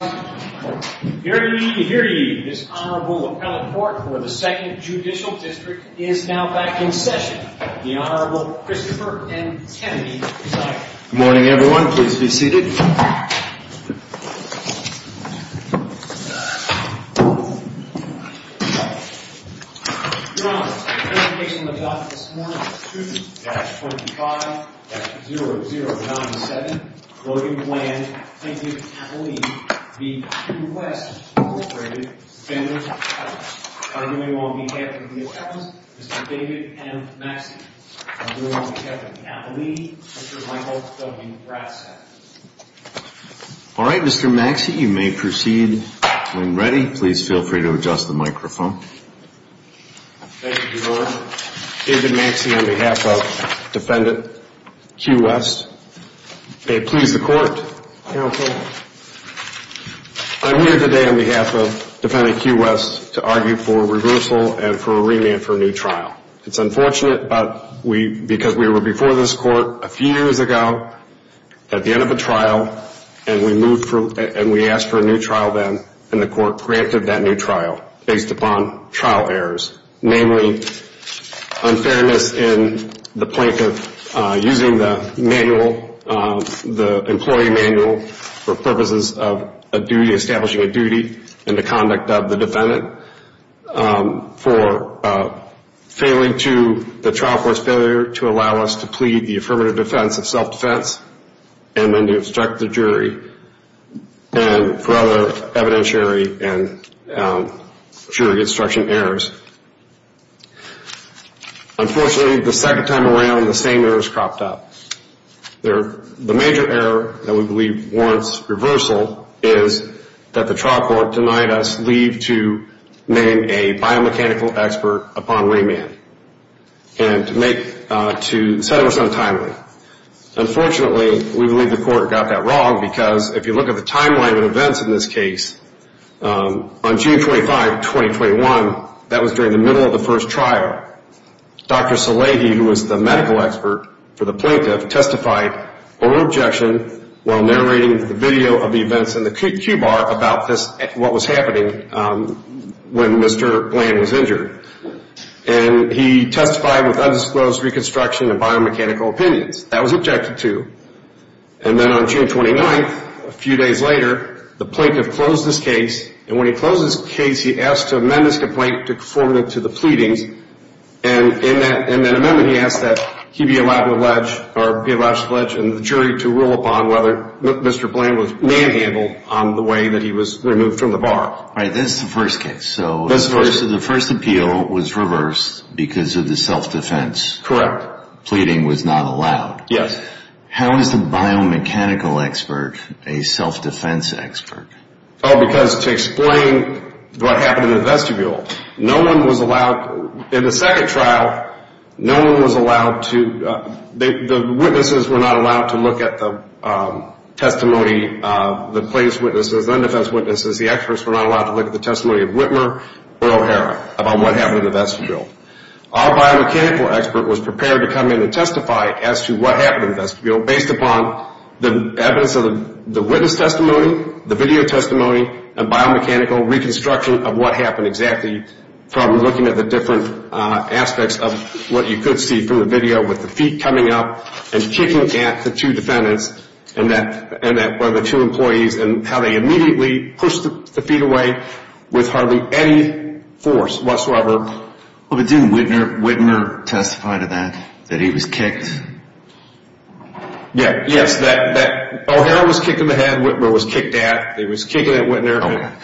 Here to meet you, here to you, this Honorable Appellate Court for the 2nd Judicial District is now back in session. The Honorable Christopher M. Kennedy is up. Good morning, everyone. Please be seated. Your Honor, the case we're looking at this morning is 2-25-0097. Logan Bland v. Appellate v. Q-West, Inc. Defendant. Arguing on behalf of the defense, Mr. David M. Maxey. Arguing on behalf of the appellate, Mr. Michael W. Brassett. All right, Mr. Maxey, you may proceed when ready. Please feel free to adjust the microphone. Thank you, Your Honor. Your Honor, David Maxey on behalf of Defendant Q-West. May it please the Court. Counsel. I'm here today on behalf of Defendant Q-West to argue for reversal and for a remand for a new trial. It's unfortunate because we were before this Court a few years ago at the end of a trial, and we asked for a new trial then, and the Court granted that new trial based upon trial errors, namely unfairness in the point of using the manual, the employee manual, for purposes of establishing a duty in the conduct of the defendant, for failing to, the trial court's failure to allow us to plead the affirmative defense of self-defense and then to instruct the jury for other evidentiary and jury instruction errors. Unfortunately, the second time around, the same errors cropped up. The major error that we believe warrants reversal is that the trial court denied us leave to name a biomechanical expert upon remand and to make, to settle us untimely. Unfortunately, we believe the Court got that wrong because if you look at the timeline of events in this case, on June 25, 2021, that was during the middle of the first trial, Dr. Szilagyi, who was the medical expert for the plaintiff, testified over objection while narrating the video of the events in the cue bar about this, what was happening when Mr. Bland was injured. And he testified with undisclosed reconstruction and biomechanical opinions. That was objected to. And then on June 29, a few days later, the plaintiff closed his case. And when he closed his case, he asked to amend his complaint to conform it to the pleadings. And in that amendment, he asked that he be allowed to pledge or be allowed to pledge and the jury to rule upon whether Mr. Bland was manhandled on the way that he was removed from the bar. All right, that's the first case. So the first appeal was reversed because of the self-defense. Correct. Pleading was not allowed. Yes. How is the biomechanical expert a self-defense expert? Oh, because to explain what happened in the vestibule, no one was allowed, in the second trial, no one was allowed to, the witnesses were not allowed to look at the testimony, the plaintiff's witnesses, the undefense witnesses, the experts were not allowed to look at the testimony of Whitmer or O'Hara about what happened in the vestibule. Our biomechanical expert was prepared to come in and testify as to what happened in the vestibule based upon the evidence of the witness testimony, the video testimony, and biomechanical reconstruction of what happened exactly from looking at the different aspects of what you could see from the video with the feet coming up and kicking at the two defendants and that one of the two employees and how they immediately pushed the feet away with hardly any force whatsoever. But didn't Whitmer testify to that, that he was kicked? Yes, that O'Hara was kicking the head, Whitmer was kicked at, he was kicking at Whitmer.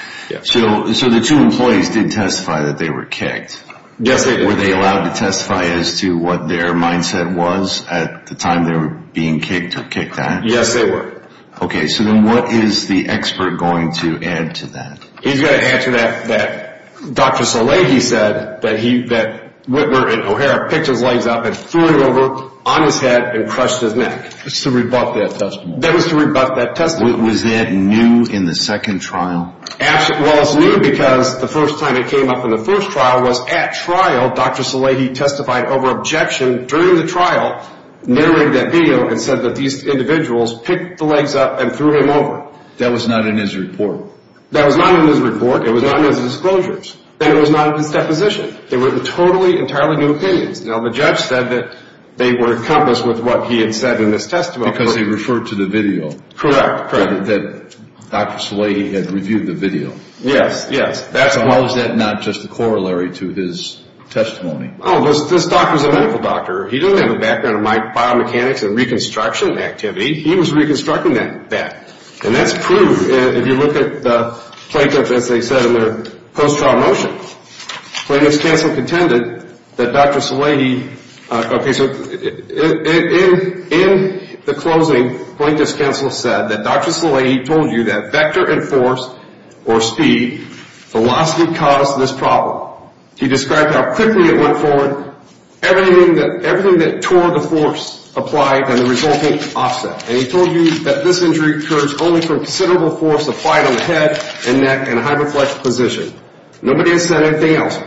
So the two employees did testify that they were kicked. Yes, they did. Were they allowed to testify as to what their mindset was at the time they were being kicked or kicked at? Yes, they were. Okay, so then what is the expert going to add to that? He's going to add to that, that Dr. Salaghi said that Whitmer and O'Hara picked his legs up and threw him over on his head and crushed his neck. That was to rebut that testimony. That was to rebut that testimony. Was that new in the second trial? Well, it's new because the first time it came up in the first trial was at trial, Dr. Salaghi testified over objection during the trial, narrated that video, and said that these individuals picked the legs up and threw him over. That was not in his report. That was not in his report, it was not in his disclosures, and it was not in his deposition. They were totally entirely new opinions. Now, the judge said that they were encompassed with what he had said in this testimony. Because he referred to the video. Correct, correct. He said that Dr. Salaghi had reviewed the video. Yes, yes. So how is that not just a corollary to his testimony? Well, this doctor's a medical doctor. He doesn't have a background in biomechanics and reconstruction activity. He was reconstructing that. And that's proved if you look at the plaintiff, as they said in their post-trial motion. Plaintiff's counsel contended that Dr. Salaghi, okay, so in the closing, plaintiff's counsel said that Dr. Salaghi told you that vector and force, or speed, velocity caused this problem. He described how quickly it went forward, everything that tore the force applied, and the resulting offset. And he told you that this injury occurs only from considerable force applied on the head, and neck, and hyperflex position. Nobody has said anything else.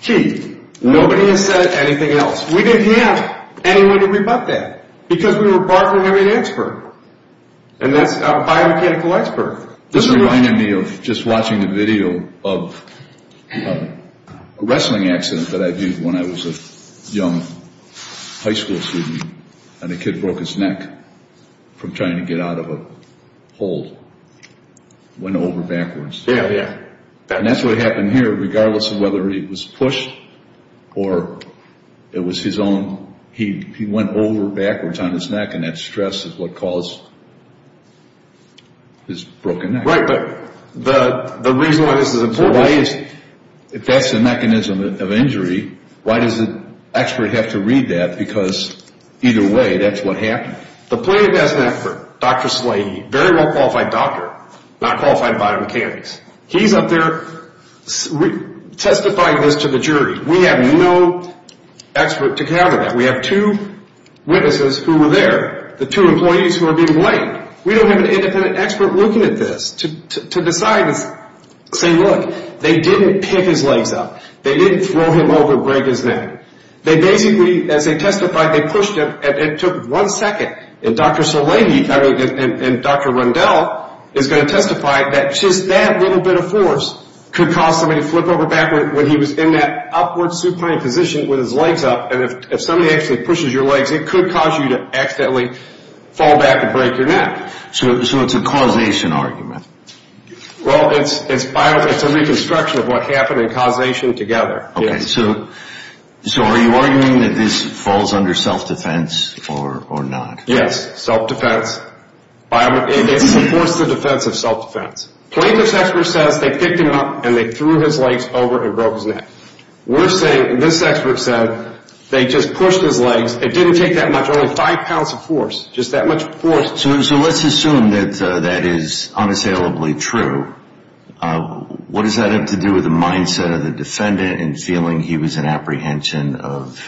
Key, nobody has said anything else. We didn't have anyone to rebut that because we were partnering with an expert, and that's a biomechanical expert. This reminded me of just watching the video of a wrestling accident that I viewed when I was a young high school student, and a kid broke his neck from trying to get out of a hole. It went over backwards. Yeah, yeah. And that's what happened here, regardless of whether he was pushed or it was his own, he went over backwards on his neck, and that stress is what caused his broken neck. Right, but the reason why this is important is... If that's the mechanism of injury, why does the expert have to read that? Because either way, that's what happened. The plaintiff has an expert, Dr. Salaghi, very well-qualified doctor, not qualified in biomechanics. He's up there testifying this to the jury. We have no expert to counter that. We have two witnesses who were there, the two employees who are being blamed. We don't have an independent expert looking at this to decide and say, look, they didn't pick his legs up. They didn't throw him over and break his neck. They basically, as they testified, they pushed him, and it took one second, and Dr. Salaghi and Dr. Rundell is going to testify that just that little bit of force could cause somebody to flip over backwards when he was in that upward supine position with his legs up, and if somebody actually pushes your legs, it could cause you to accidentally fall back and break your neck. So it's a causation argument. Well, it's a reconstruction of what happened in causation together. So are you arguing that this falls under self-defense or not? Yes, self-defense. It supports the defense of self-defense. Plaintiff's expert says they picked him up and they threw his legs over and broke his neck. We're saying this expert said they just pushed his legs. It didn't take that much, only five pounds of force, just that much force. So let's assume that that is unassailably true. What does that have to do with the mindset of the defendant in feeling he was in apprehension of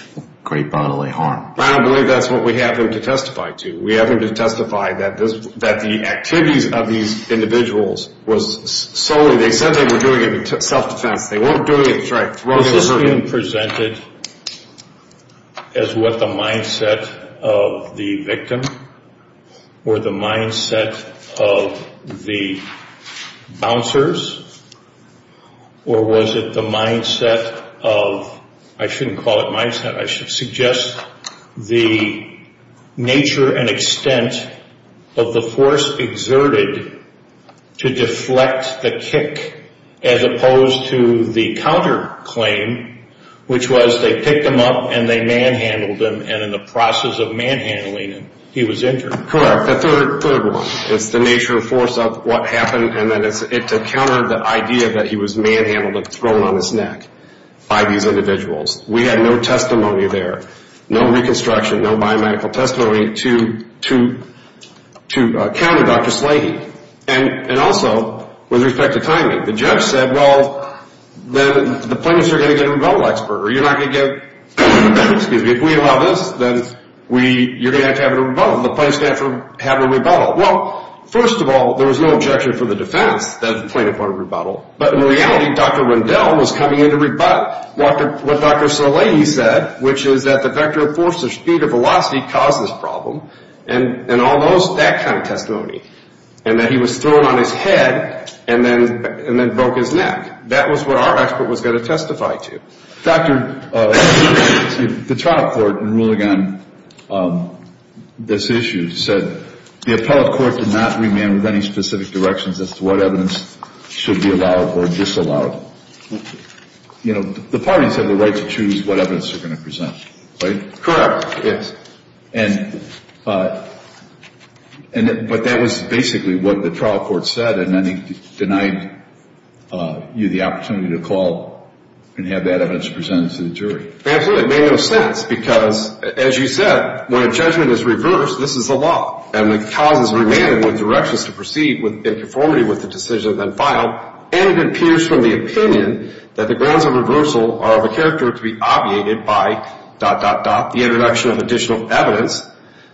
great bodily harm? I don't believe that's what we have him to testify to. We have him to testify that the activities of these individuals was solely, they said they were doing it in self-defense. They weren't doing it to try to throw him over. Is this being presented as what the mindset of the victim or the mindset of the bouncers or was it the mindset of, I shouldn't call it mindset, I should suggest the nature and extent of the force exerted to deflect the kick as opposed to the counterclaim, which was they picked him up and they manhandled him and in the process of manhandling him, he was injured. Correct, the third one. It's the nature of force of what happened and then it's to counter the idea that he was manhandled and thrown on his neck by these individuals. We had no testimony there, no reconstruction, no biomedical testimony to counter Dr. Slahey. And also, with respect to timing, the judge said, well, the plaintiffs are going to get a rebuttal expert. You're not going to get, excuse me, if we allow this, then you're going to have to have a rebuttal. The plaintiffs are going to have to have a rebuttal. Well, first of all, there was no objection for the defense that the plaintiffs want a rebuttal, but in reality, Dr. Rendell was coming in to rebut what Dr. Slahey said, which is that the vector of force, the speed of velocity caused this problem and all those, that kind of testimony and that he was thrown on his head and then broke his neck. That was what our expert was going to testify to. Dr., the trial court in ruling on this issue said the appellate court did not remand with any specific directions as to what evidence should be allowed or disallowed. You know, the parties have the right to choose what evidence they're going to present, right? Correct. Yes. But that was basically what the trial court said, and then he denied you the opportunity to call and have that evidence presented to the jury. Absolutely. It made no sense because, as you said, when a judgment is reversed, this is the law, and when the cause is remanded with directions to proceed in conformity with the decision then filed, and it appears from the opinion that the grounds of reversal are of a character to be obviated by dot, dot, dot, the introduction of additional evidence,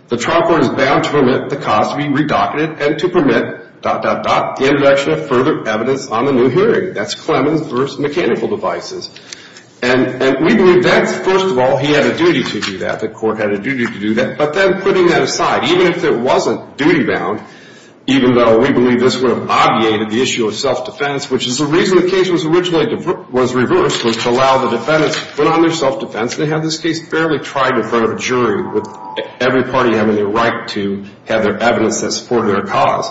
the trial court is bound to permit the cause to be redocted and to permit dot, dot, dot, the introduction of further evidence on the new hearing. That's Clemens versus mechanical devices. And we believe that's, first of all, he had a duty to do that, the court had a duty to do that, but then putting that aside, even if it wasn't duty bound, even though we believe this would have obviated the issue of self-defense, which is the reason the case was originally reversed, was to allow the defendants to put on their self-defense and have this case fairly tried in front of a jury, with every party having the right to have their evidence that supported their cause.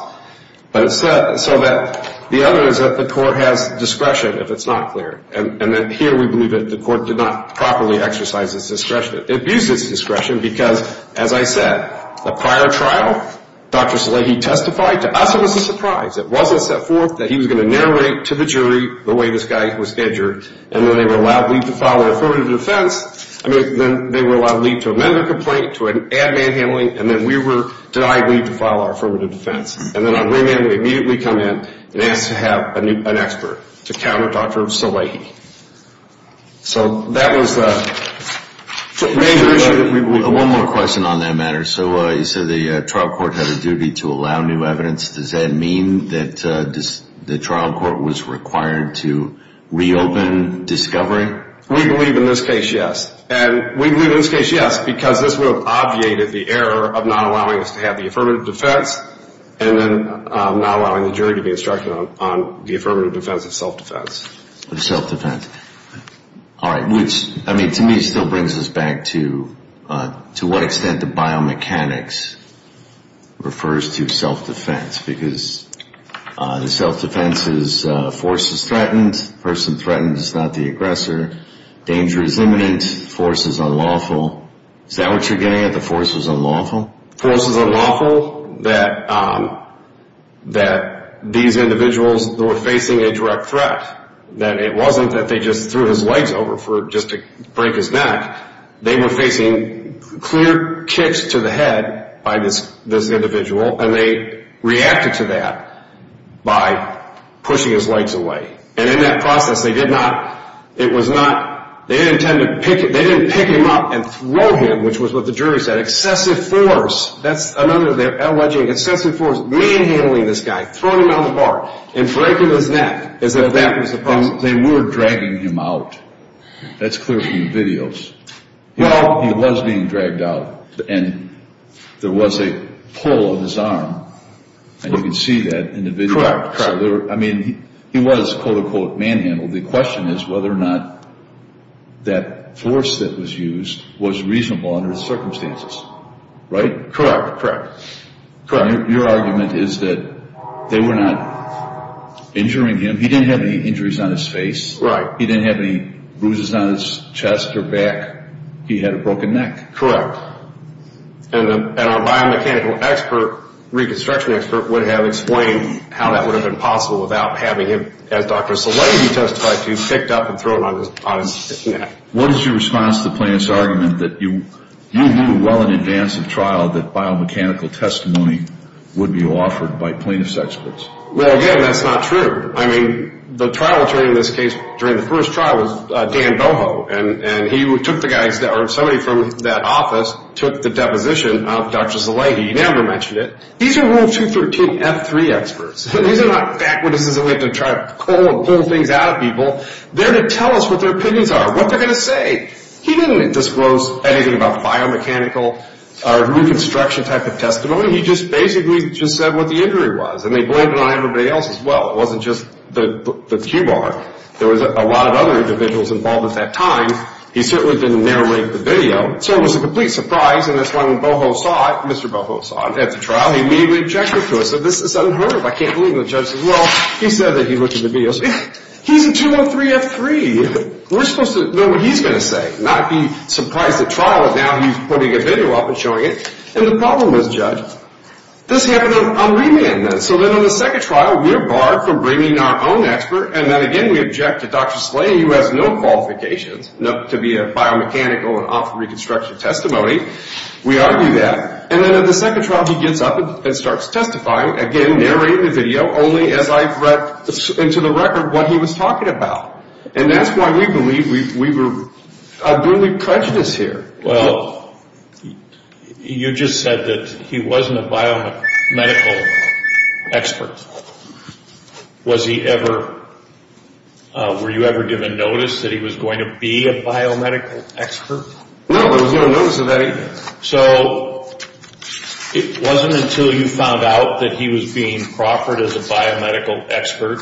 So that the other is that the court has discretion, if it's not clear. And then here we believe that the court did not properly exercise its discretion. It abused its discretion because, as I said, the prior trial, Dr. Salehi testified to us it was a surprise. It wasn't set forth that he was going to narrate to the jury the way this guy was injured, and then they were allowed leave to file their affirmative defense, I mean, then they were allowed leave to amend their complaint to an add-man handling, and then we were denied leave to file our affirmative defense. And then on remand, we immediately come in and asked to have an expert to counter Dr. Salehi. So that was the major issue that we believe. One more question on that matter. So you said the trial court had a duty to allow new evidence. Does that mean that the trial court was required to reopen discovery? We believe in this case, yes. And we believe in this case, yes, because this would have obviated the error of not allowing us to have the affirmative defense and then not allowing the jury to be instructed on the affirmative defense of self-defense. Of self-defense. All right, which, I mean, to me, still brings us back to what extent the biomechanics refers to self-defense, because the self-defense is force is threatened, the person threatened is not the aggressor, danger is imminent, force is unlawful. Is that what you're getting at, the force is unlawful? Force is unlawful, that these individuals were facing a direct threat, that it wasn't that they just threw his legs over just to break his neck. They were facing clear kicks to the head by this individual, and they reacted to that by pushing his legs away. And in that process, they did not, it was not, they didn't pick him up and throw him, which was what the jury said, excessive force, that's another of their alleging, excessive force, manhandling this guy, throwing him on the bar, and breaking his neck, as if that was the problem. They were dragging him out. That's clear from the videos. He was being dragged out, and there was a pull on his arm, and you can see that in the video. I mean, he was, quote, unquote, manhandled. The question is whether or not that force that was used was reasonable under the circumstances, right? Correct, correct. Your argument is that they were not injuring him. He didn't have any injuries on his face. He didn't have any bruises on his chest or back. He had a broken neck. Correct. And our biomechanical expert, reconstruction expert, would have explained how that would have been possible without having him, as Dr. Szalegi testified to, picked up and thrown on his neck. What is your response to the plaintiff's argument that you knew well in advance of trial that biomechanical testimony would be offered by plaintiff's experts? Well, again, that's not true. I mean, the trial attorney in this case during the first trial was Dan Boho, and he took the guy's, or somebody from that office took the deposition of Dr. Szalegi. He never mentioned it. These are Rule 213F3 experts, and these are not backwitnesses that we have to try to pull things out of people. They're to tell us what their opinions are, what they're going to say. He didn't disclose anything about biomechanical or reconstruction type of testimony. He just basically just said what the injury was, and they blamed it on everybody else as well. It wasn't just the cue ball. There was a lot of other individuals involved at that time. He certainly didn't narrate the video. So it was a complete surprise, and that's why when Boho saw it, Mr. Boho saw it at the trial, he immediately objected to it. So this is unheard of. I can't believe the judge says, well, he said that he looked at the video. He's a 213F3. We're supposed to know what he's going to say, not be surprised at trial that now he's putting a video up and showing it. And the problem was, Judge, this happened on remand. So then on the second trial, we're barred from bringing our own expert, and then again we object to Dr. Szalegi who has no qualifications to be a biomechanical and off reconstruction testimony. We argue that. And then on the second trial, he gets up and starts testifying, again narrating the video only as I've read into the record what he was talking about. And that's why we believe we were duly prejudiced here. Well, you just said that he wasn't a biomedical expert. Was he ever – were you ever given notice that he was going to be a biomedical expert? No, I was never given notice of that either. So it wasn't until you found out that he was being proffered as a biomedical expert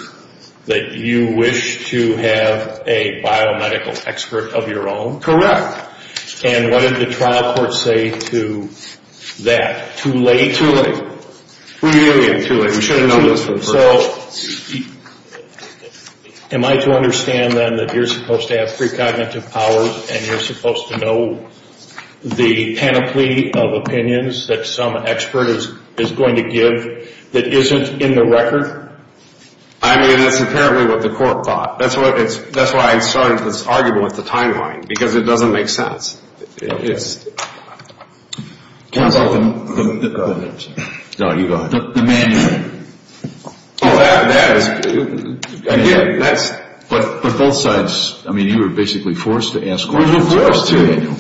that you wished to have a biomedical expert of your own? Correct. And what did the trial court say to that? Too late? Too late. Really too late. We should have known this from the first. So am I to understand then that you're supposed to have precognitive powers and you're supposed to know the panoply of opinions that some expert is going to give that isn't in the record? I mean, that's apparently what the court thought. That's why I started this argument with the timeline, because it doesn't make sense. Can I say something? No, you go ahead. The manual. Oh, that is – again, that's – But both sides – I mean, you were basically forced to ask questions of the manual.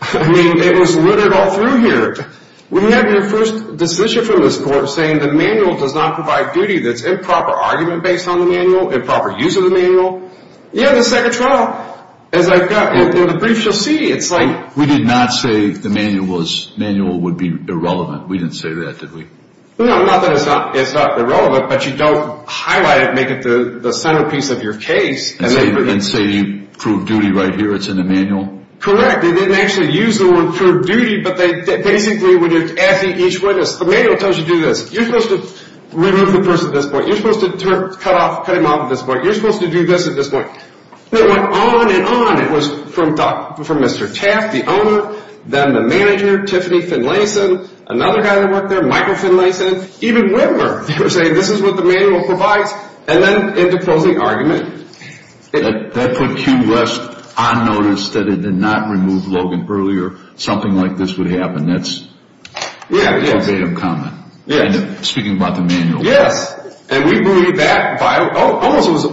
I mean, it was littered all through here. We had your first decision from this court saying the manual does not provide duty that's improper argument based on the manual, improper use of the manual. Yeah, the second trial, as I've got in the brief, you'll see, it's like – We did not say the manual would be irrelevant. We didn't say that, did we? No, not that it's not irrelevant, but you don't highlight it and make it the centerpiece of your case. And say you prove duty right here. It's in the manual. Correct. They didn't actually use the word prove duty, but they basically would ask each witness, the manual tells you to do this. You're supposed to remove the person at this point. You're supposed to cut him off at this point. You're supposed to do this at this point. It went on and on. It was from Mr. Taft, the owner, then the manager, Tiffany Finlayson, another guy that worked there, Michael Finlayson, even Whitmer. They were saying this is what the manual provides, and then end the closing argument. That put Q West on notice that it did not remove Logan earlier. Something like this would happen. Yeah, it is. It's a made-up comment. Yeah. Speaking about the manual. Yes, and we believe that –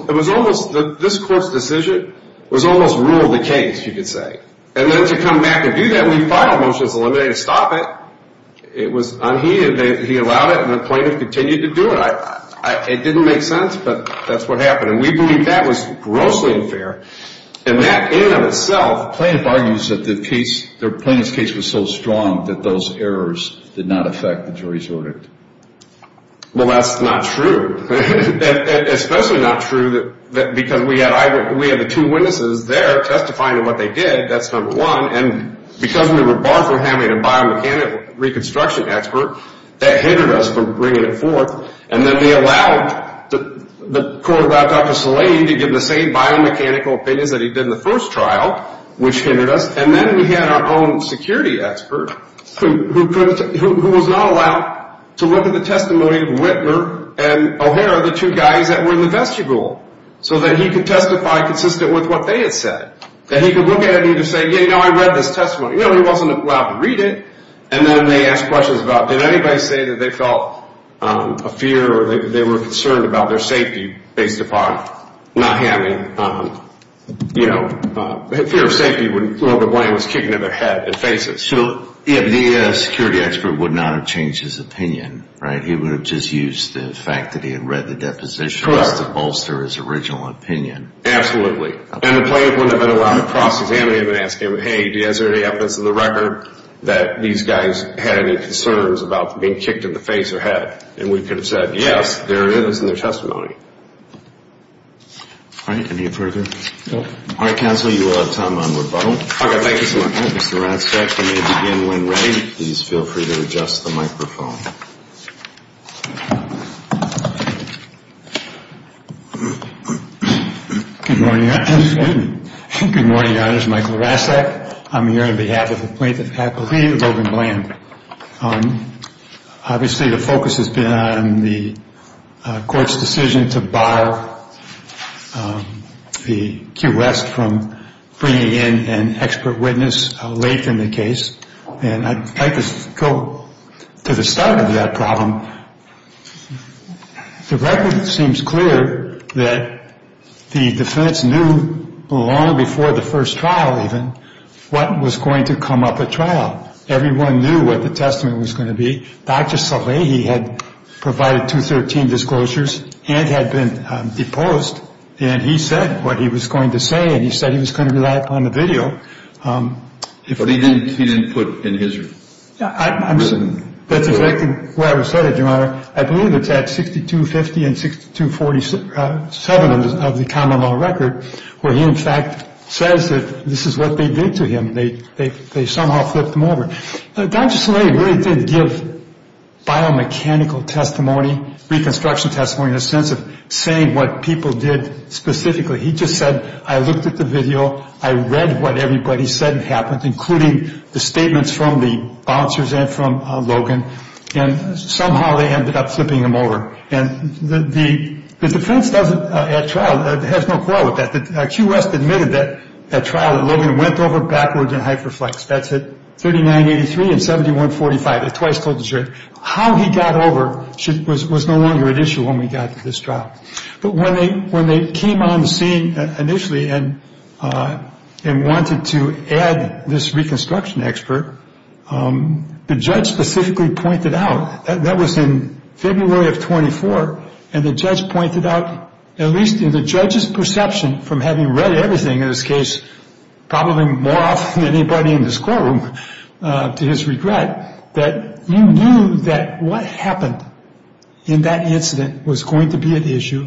it was almost – this court's decision was almost rule of the case, you could say. And then to come back and do that, we filed a motion to stop it. It was unheeded. He allowed it, and the plaintiff continued to do it. It didn't make sense, but that's what happened. And we believe that was grossly unfair. And that in and of itself – The plaintiff argues that the case – the plaintiff's case was so strong that those errors did not affect the jury's verdict. Well, that's not true. Especially not true because we had the two witnesses there testifying to what they did. That's number one. And because we were barred from having a biomechanical reconstruction expert, that hindered us from bringing it forth. And then we allowed – the court allowed Dr. Szilagyi to give the same biomechanical opinions that he did in the first trial, which hindered us. And then we had our own security expert who was not allowed to look at the testimony of Whitmer and O'Hara, the two guys that were in the vestibule, so that he could testify consistent with what they had said. That he could look at it and say, you know, I read this testimony. You know, he wasn't allowed to read it. And then they asked questions about, did anybody say that they felt a fear or they were concerned about their safety based upon not having, you know – their fear of safety, well, the blame was kicking in their head and faces. So, yeah, the security expert would not have changed his opinion, right? He would have just used the fact that he had read the deposition just to bolster his original opinion. Absolutely. And the plaintiff wouldn't have been allowed to cross-examine him and ask him, hey, is there any evidence in the record that these guys had any concerns about being kicked in the face or head? And we could have said, yes, there it is in their testimony. All right. Any further? No. All right, counsel, you will have time on rebuttal. All right, thank you so much. Mr. Rastak, you may begin when ready. Please feel free to adjust the microphone. Good morning, Your Honor. Excuse me. Good morning, Your Honor. This is Michael Rastak. I'm here on behalf of the plaintiff's faculty, Logan Bland. Obviously, the focus has been on the court's decision to bar the Q West from bringing in an expert witness late in the case. And I'd like to go to the start of that problem. The record seems clear that the defense knew long before the first trial even what was going to come up at trial. Everyone knew what the testimony was going to be. Dr. Salai, he had provided 213 disclosures and had been deposed. And he said what he was going to say, and he said he was going to rely upon the video. But he didn't put in his written testimony. That's exactly where I was headed, Your Honor. I believe it's at 6250 and 6247 of the common law record, where he, in fact, says that this is what they did to him. They somehow flipped him over. Dr. Salai really did give biomechanical testimony, reconstruction testimony, in a sense of saying what people did specifically. He just said, I looked at the video. I read what everybody said had happened, including the statements from the bouncers and from Logan. And somehow they ended up flipping him over. And the defense at trial has no quarrel with that. Q. West admitted that at trial that Logan went over backwards in hyperflex. That's at 3983 and 7145. I twice told the jury how he got over was no longer an issue when we got to this trial. But when they came on the scene initially and wanted to add this reconstruction expert, the judge specifically pointed out, that was in February of 24, and the judge pointed out, at least in the judge's perception from having read everything, in this case probably more often than anybody in this courtroom, to his regret, that you knew that what happened in that incident was going to be an issue.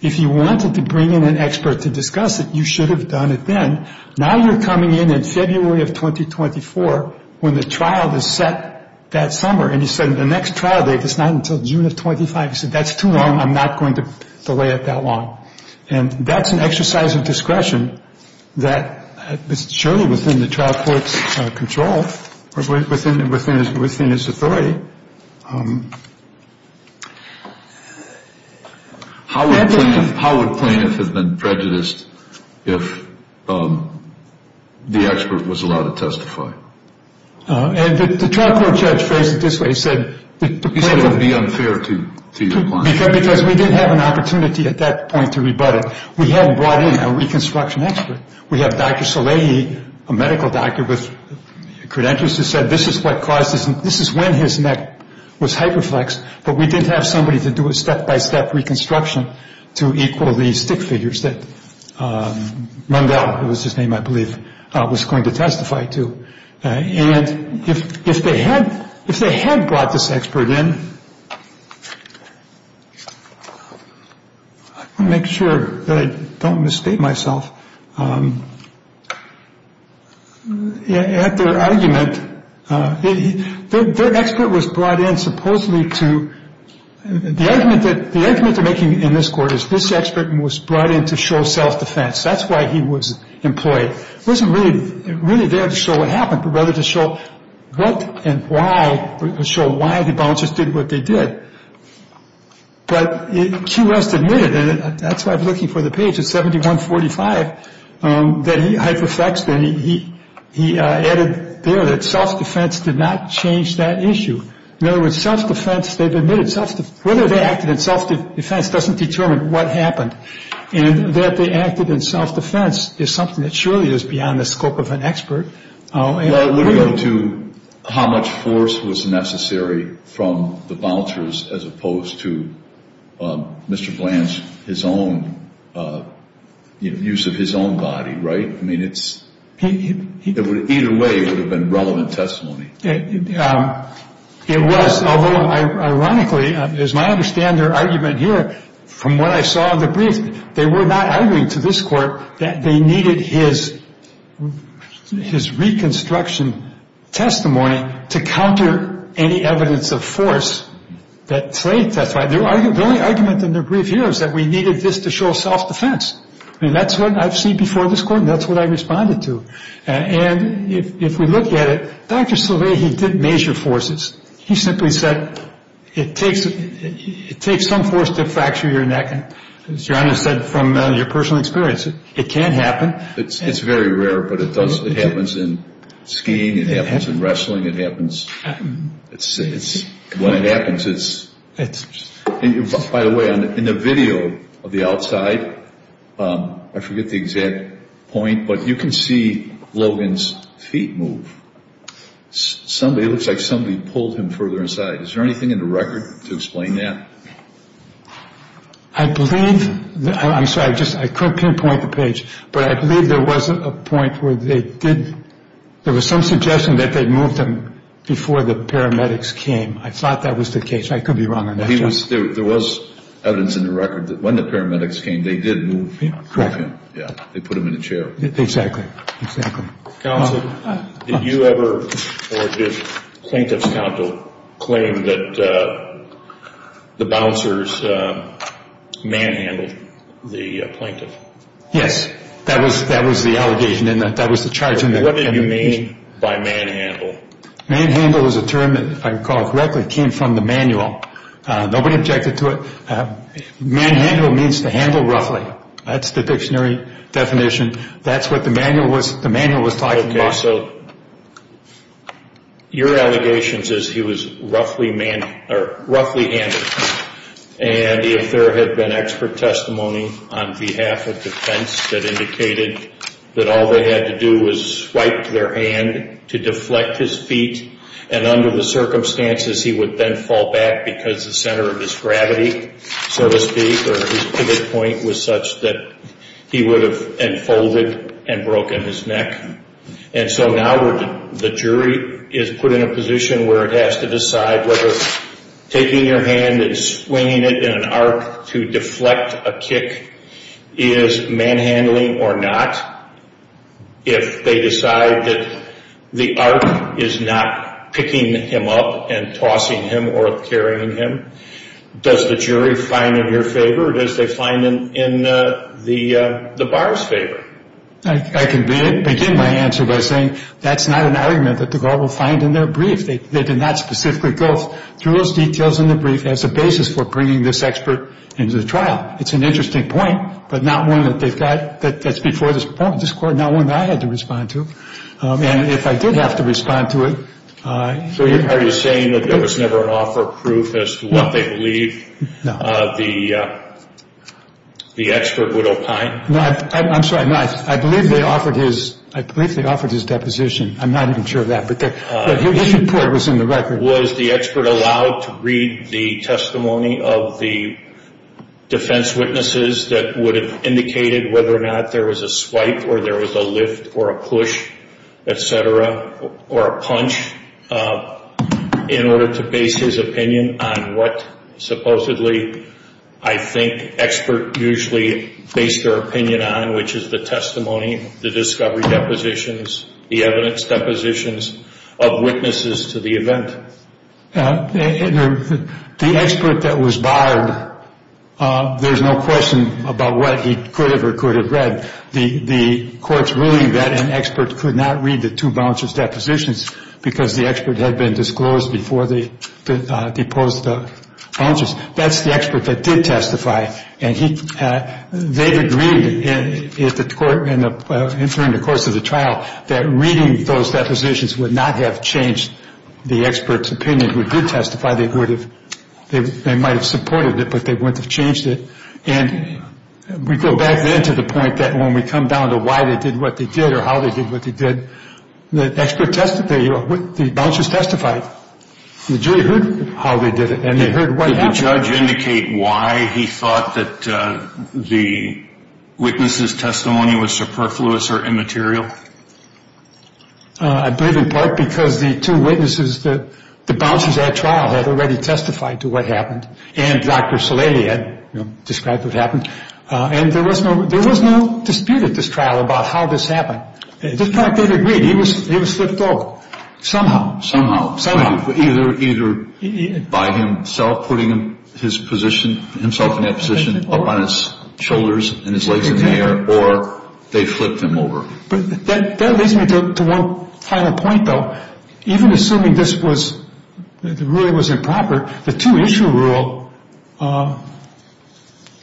If you wanted to bring in an expert to discuss it, you should have done it then. Now you're coming in in February of 2024 when the trial is set that summer. And he said, the next trial date is not until June of 25. He said, that's too long. I'm not going to delay it that long. And that's an exercise of discretion that is surely within the trial court's control, within its authority. How would plaintiff have been prejudiced if the expert was allowed to testify? The trial court judge phrased it this way. He said it would be unfair to your client. Because we didn't have an opportunity at that point to rebut it. We hadn't brought in a reconstruction expert. We have Dr. Salaihi, a medical doctor with credentials, who said this is what caused this. This is when his neck was hyperflexed. But we didn't have somebody to do a step-by-step reconstruction to equal the stick figures that Rundell, it was his name I believe, was going to testify to. And if they had brought this expert in, I want to make sure that I don't mistake myself, at their argument, their expert was brought in supposedly to, the argument they're making in this court is this expert was brought in to show self-defense. That's why he was employed. He wasn't really there to show what happened, but rather to show what and why, to show why the bouncers did what they did. But Q West admitted, and that's why I'm looking for the page, it's 7145, that he hyperflexed and he added there that self-defense did not change that issue. In other words, self-defense, they've admitted, whether they acted in self-defense doesn't determine what happened. And that they acted in self-defense is something that surely is beyond the scope of an expert. Well, it would go to how much force was necessary from the bouncers as opposed to Mr. Blanche, his own use of his own body, right? I mean, either way it would have been relevant testimony. It was, although ironically, as I understand their argument here, from what I saw in the brief, they were not arguing to this court that they needed his reconstruction testimony to counter any evidence of force that played testifying. The only argument in the brief here is that we needed this to show self-defense. I mean, that's what I've seen before this court and that's what I responded to. And if we look at it, Dr. Slavey, he didn't measure forces. He simply said it takes some force to fracture your neck. As John has said from your personal experience, it can happen. It's very rare, but it does. It happens in skiing. It happens in wrestling. It happens, when it happens, it's, by the way, in the video of the outside, I forget the exact point, but you can see Logan's feet move. It looks like somebody pulled him further inside. Is there anything in the record to explain that? I believe, I'm sorry, I just, I couldn't pinpoint the page, but I believe there was a point where they did, there was some suggestion that they moved him before the paramedics came. I thought that was the case. I could be wrong on that, John. There was evidence in the record that when the paramedics came, they did move him. Yeah, they put him in a chair. Exactly, exactly. Counsel, did you ever, or did plaintiff's counsel claim that the bouncers manhandled the plaintiff? Yes, that was the allegation, and that was the charge in the record. What did you mean by manhandle? Manhandle is a term that, if I recall correctly, came from the manual. Nobody objected to it. Manhandle means to handle roughly. That's the dictionary definition. That's what the manual was talking about. Okay, so your allegations is he was roughly handled. And if there had been expert testimony on behalf of defense that indicated that all they had to do was swipe their hand to deflect his feet, and under the circumstances, he would then fall back because the center of his gravity, so to speak, or his pivot point was such that he would have unfolded and broken his neck. And so now the jury is put in a position where it has to decide whether taking your hand and swinging it in an arc to deflect a kick is manhandling or not. If they decide that the arc is not picking him up and tossing him or carrying him, does the jury find in your favor or does they find in the bar's favor? I can begin my answer by saying that's not an argument that the bar will find in their brief. They did not specifically go through those details in the brief as a basis for bringing this expert into the trial. It's an interesting point, but not one that they've got that's before this court, not one that I had to respond to. And if I did have to respond to it. So are you saying that there was never an offer of proof as to what they believe the expert would opine? No, I'm sorry, no. I believe they offered his deposition. I'm not even sure of that, but his report was in the record. Was the expert allowed to read the testimony of the defense witnesses that would have indicated whether or not there was a swipe or there was a lift or a push, et cetera, or a punch, in order to base his opinion on what supposedly I think experts usually base their opinion on, which is the testimony, the discovery depositions, the evidence depositions of witnesses to the event. The expert that was barred, there's no question about what he could have or could have read. The court's ruling that an expert could not read the two vouchers depositions because the expert had been disclosed before they deposed the vouchers. That's the expert that did testify, and they agreed during the course of the trial that reading those depositions would not have changed the expert's opinion. If they did testify, they might have supported it, but they wouldn't have changed it. And we go back then to the point that when we come down to why they did what they did or how they did what they did, the vouchers testified. The jury heard how they did it, and they heard what happened. Did the judge indicate why he thought that the witness's testimony was superfluous or immaterial? I believe in part because the two witnesses, the vouchers at trial, had already testified to what happened, and Dr. Saleli had described what happened, and there was no dispute at this trial about how this happened. In fact, they'd agreed. He was flipped over somehow. Either by himself putting himself in that position up on his shoulders and his legs in the air, or they flipped him over. But that leads me to one final point, though. Even assuming the ruling was improper, the two-issue rule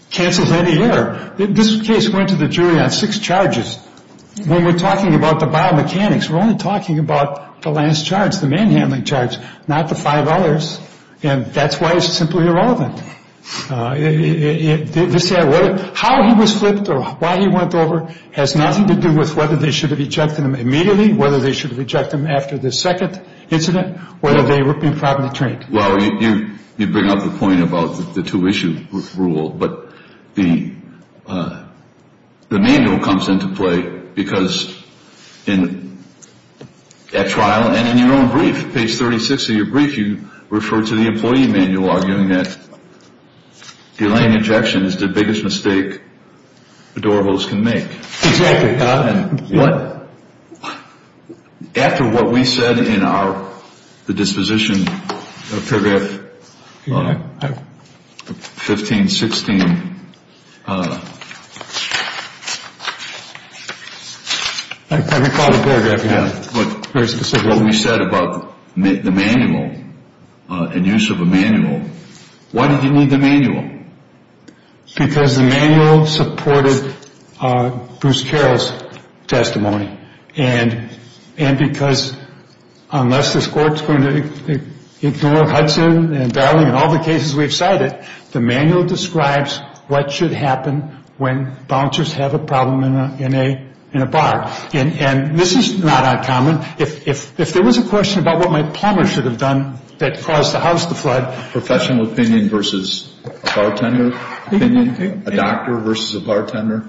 cancels any error. This case went to the jury on six charges. When we're talking about the biomechanics, we're only talking about the last charge, the manhandling charge, not the five others, and that's why it's simply irrelevant. How he was flipped or why he went over has nothing to do with whether they should have ejected him immediately, whether they should have ejected him after the second incident, whether they were improperly trained. Well, you bring up the point about the two-issue rule, but the manual comes into play because at trial and in your own brief, page 36 of your brief, you refer to the employee manual arguing that delaying ejection is the biggest mistake a door host can make. Exactly. After what we said in the disposition of paragraph 15, 16. I recall the paragraph, yeah. Very specific. What we said about the manual and use of a manual. Why did you need the manual? Because the manual supported Bruce Carroll's testimony. And because unless this court's going to ignore Hudson and Darling and all the cases we've cited, the manual describes what should happen when bouncers have a problem in a bar. And this is not uncommon. If there was a question about what my plumber should have done that caused the house to flood. Professional opinion versus a bartender opinion. A doctor versus a bartender.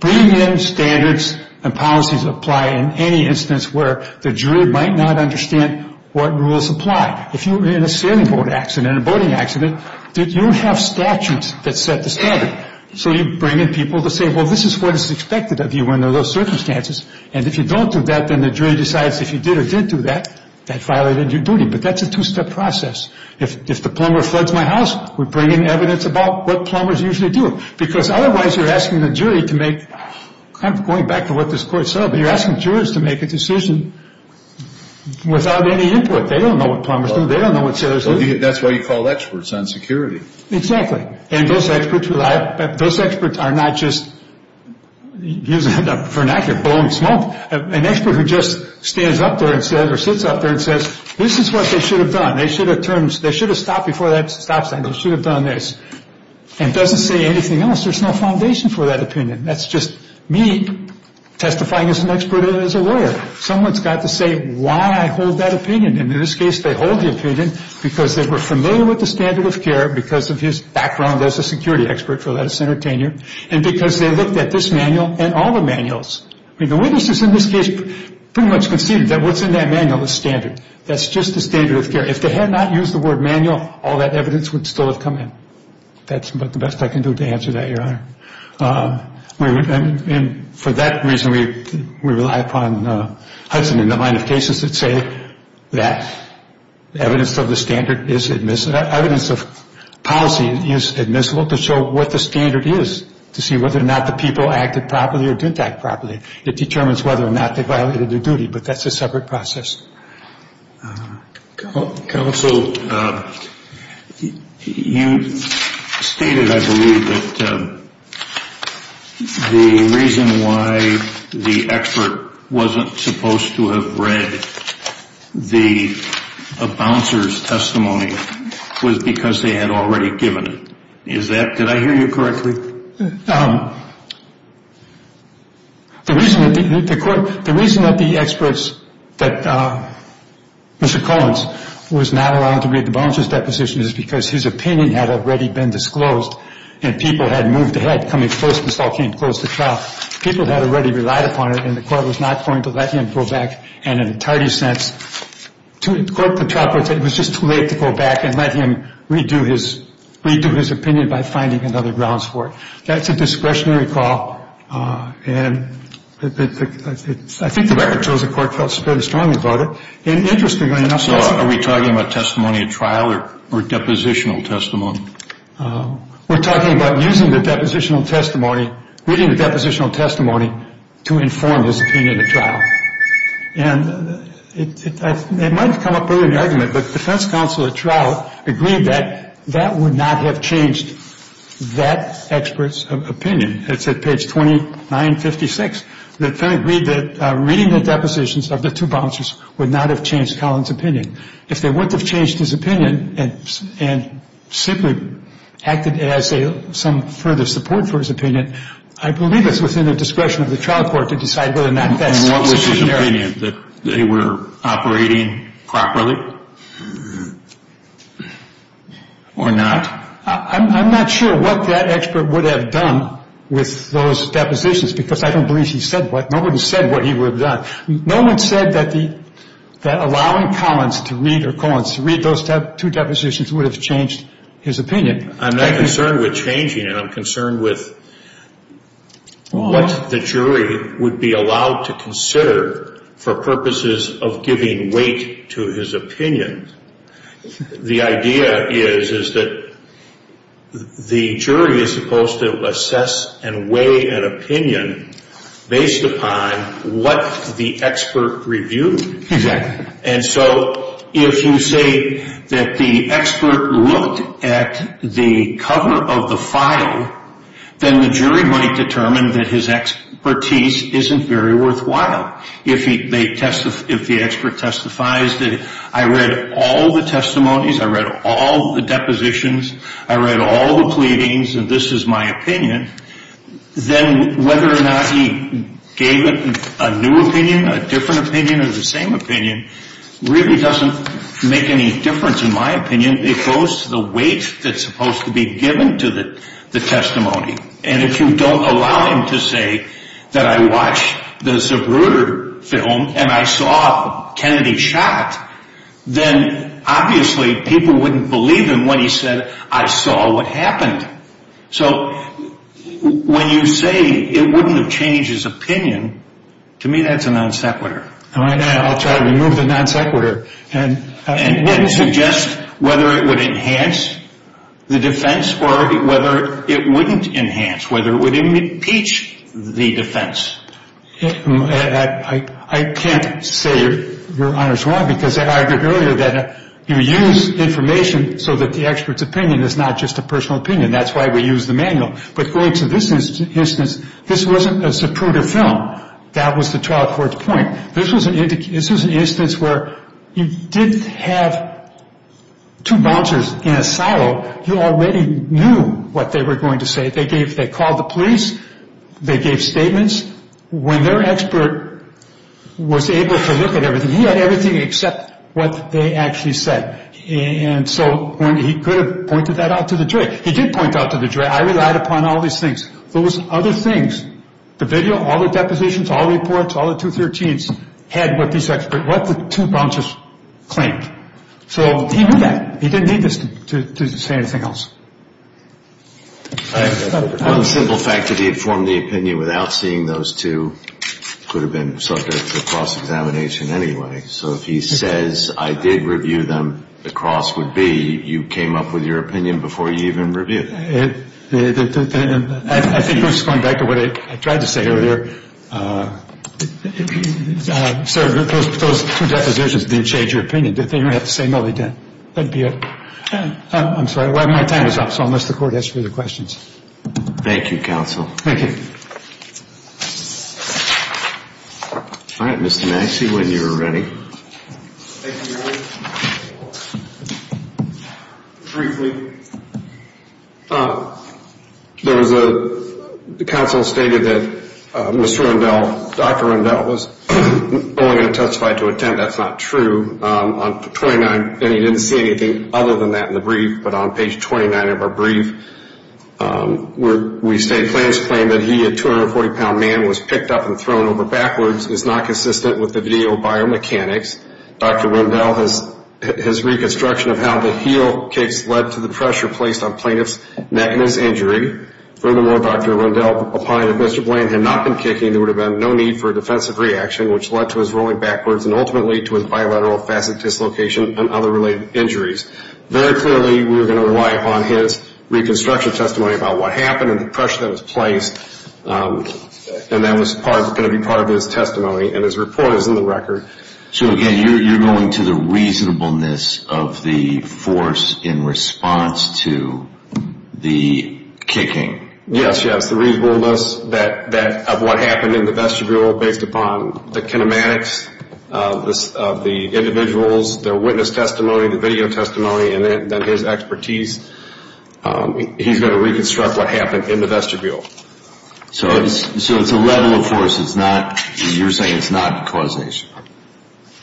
Bringing in standards and policies apply in any instance where the jury might not understand what rules apply. If you're in a sailing boat accident, a boating accident, you have statutes that set the standard. So you bring in people to say, well, this is what is expected of you under those circumstances. And if you don't do that, then the jury decides if you did or didn't do that, that violated your duty. But that's a two-step process. If the plumber floods my house, we bring in evidence about what plumbers usually do. Because otherwise you're asking the jury to make, going back to what this court said, you're asking jurors to make a decision without any input. They don't know what plumbers do. They don't know what sailors do. That's why you call experts on security. Exactly. And those experts are not just using a vernacular, blowing smoke. An expert who just stands up there or sits up there and says, this is what they should have done. They should have stopped before that stop sign. They should have done this. And doesn't say anything else. There's no foundation for that opinion. That's just me testifying as an expert and as a lawyer. Someone's got to say why I hold that opinion. And in this case, they hold the opinion because they were familiar with the standard of care, because of his background as a security expert for lettuce entertainer, and because they looked at this manual and all the manuals. I mean, the witnesses in this case pretty much conceded that what's in that manual is standard. That's just the standard of care. If they had not used the word manual, all that evidence would still have come in. That's about the best I can do to answer that, Your Honor. And for that reason, we rely upon Hudson in the mind of cases that say that evidence of the standard is admissible. Evidence of policy is admissible to show what the standard is, to see whether or not the people acted properly or didn't act properly. It determines whether or not they violated their duty. But that's a separate process. Counsel, you stated, I believe, that the reason why the expert wasn't supposed to have read the bouncers' testimony was because they had already given it. Is that – did I hear you correctly? The reason that the experts – that Mr. Collins was not allowed to read the bouncers' depositions is because his opinion had already been disclosed, and people had moved ahead, coming first, and still can't close the trial. People had already relied upon it, and the court was not going to let him go back in an entirety sense. To quote the trial court, it was just too late to go back and let him redo his opinion by finding another grounds for it. That's a discretionary call, and I think the record shows the court felt very strongly about it. And interestingly enough – So are we talking about testimony at trial or depositional testimony? We're talking about using the depositional testimony, reading the depositional testimony, to inform his opinion at trial. And it might have come up earlier in the argument, but the defense counsel at trial agreed that that would not have changed that expert's opinion. It's at page 2956. The defense agreed that reading the depositions of the two bouncers would not have changed Collins' opinion. If they wouldn't have changed his opinion and simply acted as some further support for his opinion, I believe it's within the discretion of the trial court to decide whether or not that's sufficient. And what was his opinion? That they were operating properly or not? I'm not sure what that expert would have done with those depositions, because I don't believe he said what. Nobody said what he would have done. No one said that allowing Collins to read those two depositions would have changed his opinion. I'm not concerned with changing it. I'm concerned with what the jury would be allowed to consider for purposes of giving weight to his opinion. The idea is that the jury is supposed to assess and weigh an opinion based upon what the expert reviewed. Exactly. And so if you say that the expert looked at the cover of the file, then the jury might determine that his expertise isn't very worthwhile. If the expert testifies that I read all the testimonies, I read all the depositions, I read all the pleadings, and this is my opinion, then whether or not he gave a new opinion, a different opinion, or the same opinion really doesn't make any difference in my opinion. It goes to the weight that's supposed to be given to the testimony. And if you don't allow him to say that I watched the Zubruder film and I saw Kennedy shot, then obviously people wouldn't believe him when he said, I saw what happened. So when you say it wouldn't have changed his opinion, to me that's a non sequitur. I'll try to remove the non sequitur. And then suggest whether it would enhance the defense or whether it wouldn't enhance, whether it would impeach the defense. I can't say Your Honor's wrong because I argued earlier that you use information so that the expert's opinion is not just a personal opinion. And that's why we use the manual. But going to this instance, this wasn't a Zubruder film. That was the trial court's point. This was an instance where you didn't have two bouncers in a silo. You already knew what they were going to say. They called the police. They gave statements. When their expert was able to look at everything, he had everything except what they actually said. And so he could have pointed that out to the jury. He did point that out to the jury. I relied upon all these things. Those other things, the video, all the depositions, all the reports, all the 213s, had what the two bouncers claimed. So he knew that. He didn't need this to say anything else. One simple fact that he had formed the opinion without seeing those two could have been subject to cross-examination anyway. So if he says, I did review them, the cross would be you came up with your opinion before you even reviewed them. I think this is going back to what I tried to say earlier. Sir, those two depositions didn't change your opinion, did they? You don't have to say no, they didn't. That would be it. I'm sorry. My time is up. So I'll let the court answer your questions. Thank you, counsel. Thank you. All right, Mr. Maxey, when you're ready. Thank you, Your Honor. Briefly, the counsel stated that Mr. Rundell, Dr. Rundell, was only going to testify to a tent. That's not true. On page 29, and he didn't say anything other than that in the brief, but on page 29 of our brief, we state plaintiff's claim that he, a 240-pound man, was picked up and thrown over backwards is not consistent with the video biomechanics. Dr. Rundell, his reconstruction of how the heel kicks led to the pressure placed on plaintiff's neck and his injury. Furthermore, Dr. Rundell opined if Mr. Blaine had not been kicking, there would have been no need for a defensive reaction, which led to his rolling backwards and ultimately to his bilateral facet dislocation and other related injuries. Very clearly, we were going to rely upon his reconstruction testimony about what happened and the pressure that was placed, and that was going to be part of his testimony, and his report is in the record. So, again, you're going to the reasonableness of the force in response to the kicking. Yes, yes, the reasonableness of what happened in the vestibule based upon the kinematics of the individuals, their witness testimony, the video testimony, and then his expertise, he's going to reconstruct what happened in the vestibule. So it's a level of force. You're saying it's not causation.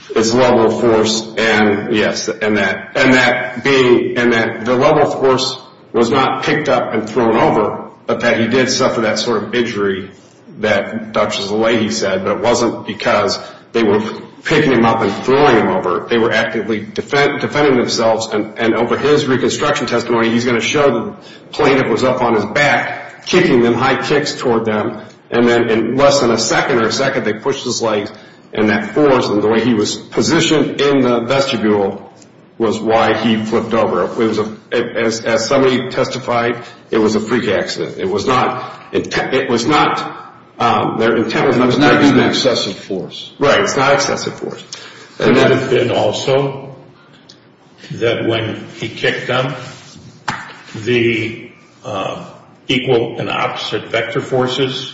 It's a level of force, and yes, and that being, and that the level of force was not picked up and thrown over, but that he did suffer that sort of injury that Drs. Lally said, but it wasn't because they were picking him up and throwing him over. They were actively defending themselves, and over his reconstruction testimony, he's going to show the plaintiff was up on his back kicking them, high kicks toward them, and then in less than a second or a second, they pushed his legs, and that force and the way he was positioned in the vestibule was why he flipped over. As somebody testified, it was a freak accident. It was not, their intent was not to use excessive force. Right. It's not excessive force. And also that when he kicked them, the equal and opposite vector forces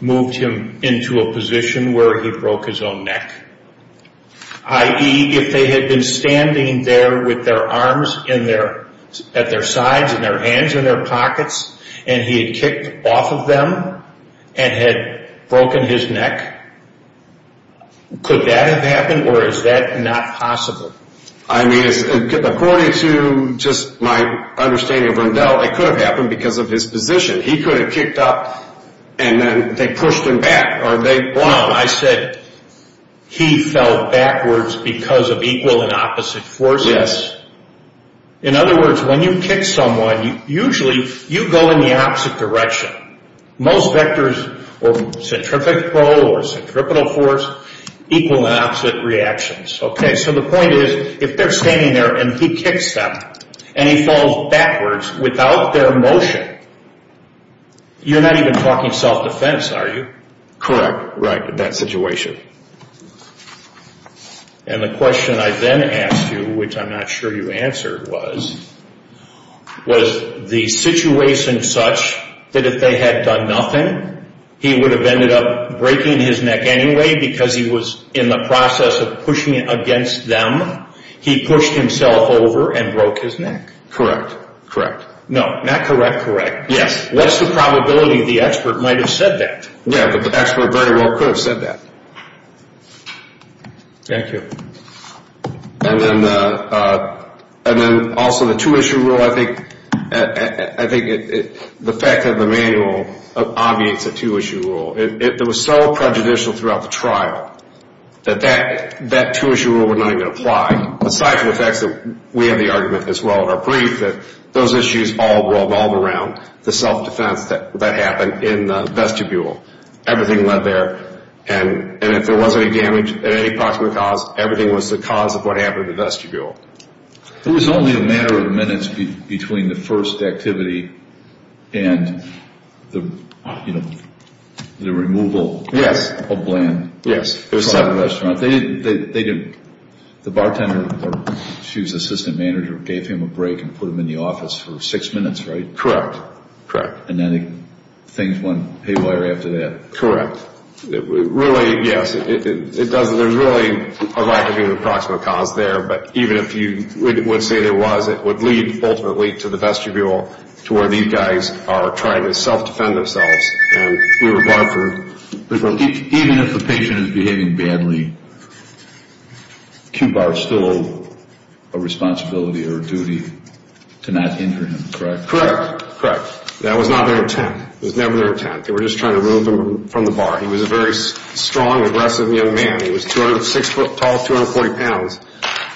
moved him into a position where he broke his own neck. I.e., if they had been standing there with their arms in their, at their sides and their hands in their pockets, and he had kicked off of them and had broken his neck, could that have happened, or is that not possible? I mean, according to just my understanding of Rendell, it could have happened because of his position. He could have kicked up, and then they pushed him back, or they, well, I said, he fell backwards because of equal and opposite forces. In other words, when you kick someone, usually you go in the opposite direction. Most vectors or centrifugal or centripetal force, equal and opposite reactions. Okay. So the point is, if they're standing there and he kicks them, and he falls backwards without their motion, you're not even talking self-defense, are you? Correct. Right, in that situation. And the question I then asked you, which I'm not sure you answered was, was the situation such that if they had done nothing, he would have ended up breaking his neck anyway because he was in the process of pushing against them, he pushed himself over and broke his neck? Correct. Correct. No, not correct, correct. Yes. What's the probability the expert might have said that? Yes, the expert very well could have said that. Thank you. And then also the two-issue rule, I think the fact that the manual obviates a two-issue rule. It was so prejudicial throughout the trial that that two-issue rule would not even apply, aside from the fact that we have the argument as well in our brief that those issues all revolve around the self-defense that happened in the vestibule. Everything led there, and if there was any damage at any part of the cause, everything was the cause of what happened in the vestibule. It was only a matter of minutes between the first activity and the removal of Bland from the restaurant. They didn't, the bartender, or the chief's assistant manager, gave him a break and put him in the office for six minutes, right? Correct, correct. And then things went haywire after that. Correct. Really, yes, it does, there's really a lack of even a proximate cause there, but even if you would say there was, it would lead ultimately to the vestibule, to where these guys are trying to self-defend themselves, and we were barred for... Even if the patient is behaving badly, QBAR still owes a responsibility or a duty to not injure him, correct? Correct, correct. That was not their intent. It was never their intent. They were just trying to remove him from the bar. He was a very strong, aggressive young man. He was six foot tall, 240 pounds,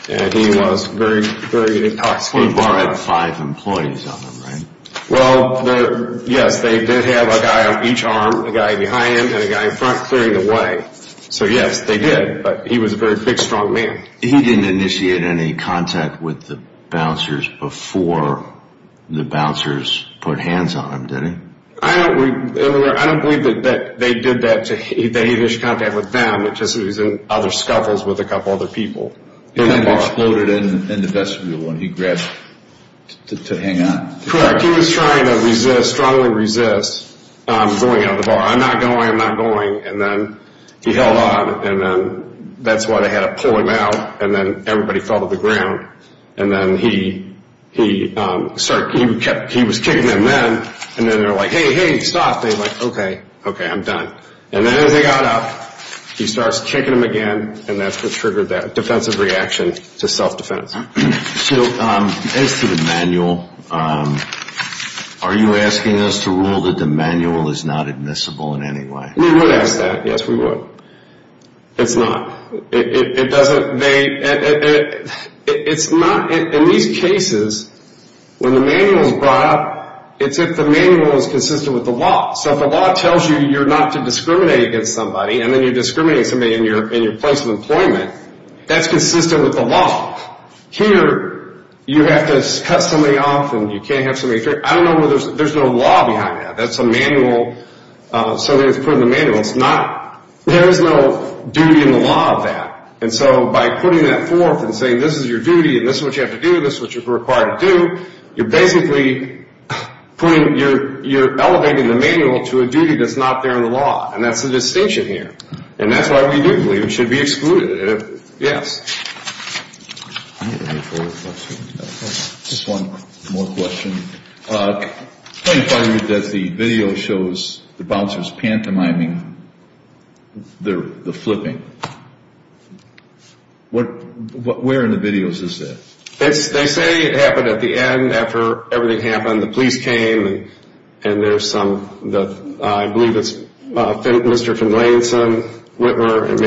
and he was very, very intoxicated. QBAR had five employees on them, right? Well, yes, they did have a guy on each arm, a guy behind him, and a guy in front clearing the way. So yes, they did, but he was a very big, strong man. He didn't initiate any contact with the bouncers before the bouncers put hands on him, did he? I don't believe that they did that, that he reached contact with them. It's just that he was in other scuffles with a couple other people in the bar. He exploded in the vestibule when he grabbed to hang on. Correct. He was trying to resist, strongly resist, going out of the bar. I'm not going, I'm not going, and then he held on, and then that's why they had to pull him out, and then everybody fell to the ground. And then he was kicking them then, and then they were like, hey, hey, stop. They were like, okay, okay, I'm done. And then as they got up, he starts kicking them again, and that's what triggered that defensive reaction to self-defense. So as to the manual, are you asking us to rule that the manual is not admissible in any way? We would ask that, yes, we would. It's not. It doesn't, they, it's not, in these cases, when the manual is brought up, it's if the manual is consistent with the law. So if the law tells you you're not to discriminate against somebody, and then you're discriminating against somebody in your place of employment, that's consistent with the law. Here, you have to cut somebody off, and you can't have somebody, I don't know whether, there's no law behind that. That's a manual, somebody that's put in the manual. It's not, there is no duty in the law of that. And so by putting that forth and saying this is your duty, and this is what you have to do, this is what you're required to do, you're basically putting, you're elevating the manual to a duty that's not there in the law, and that's the distinction here. And that's why we do believe it should be excluded. Just one more question. I find that the video shows the bouncers pantomiming the flipping. Where in the videos is that? They say it happened at the end, after everything happened, the police came, and there's some, I believe it's Mr. Finlayson, Whitmer, and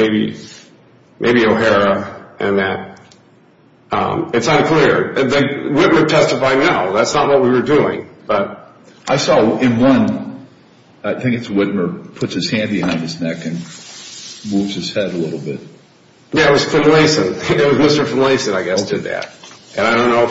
maybe O'Hara, and that, it's unclear. Whitmer testified no, that's not what we were doing. I saw in one, I think it's Whitmer, puts his hand behind his neck and moves his head a little bit. Yeah, it was Finlayson. It was Mr. Finlayson, I guess, did that. And I don't know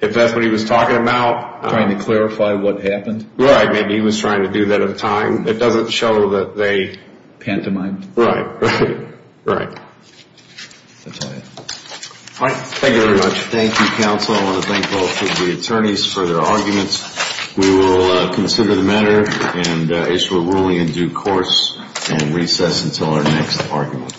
if that's what he was talking about. Trying to clarify what happened? Right, maybe he was trying to do that on time. It doesn't show that they pantomimed. Right, right, right. That's all I have. All right, thank you very much. Thank you, counsel. I want to thank both of the attorneys for their arguments. We will consider the matter and issue a ruling in due course and recess until our next argument.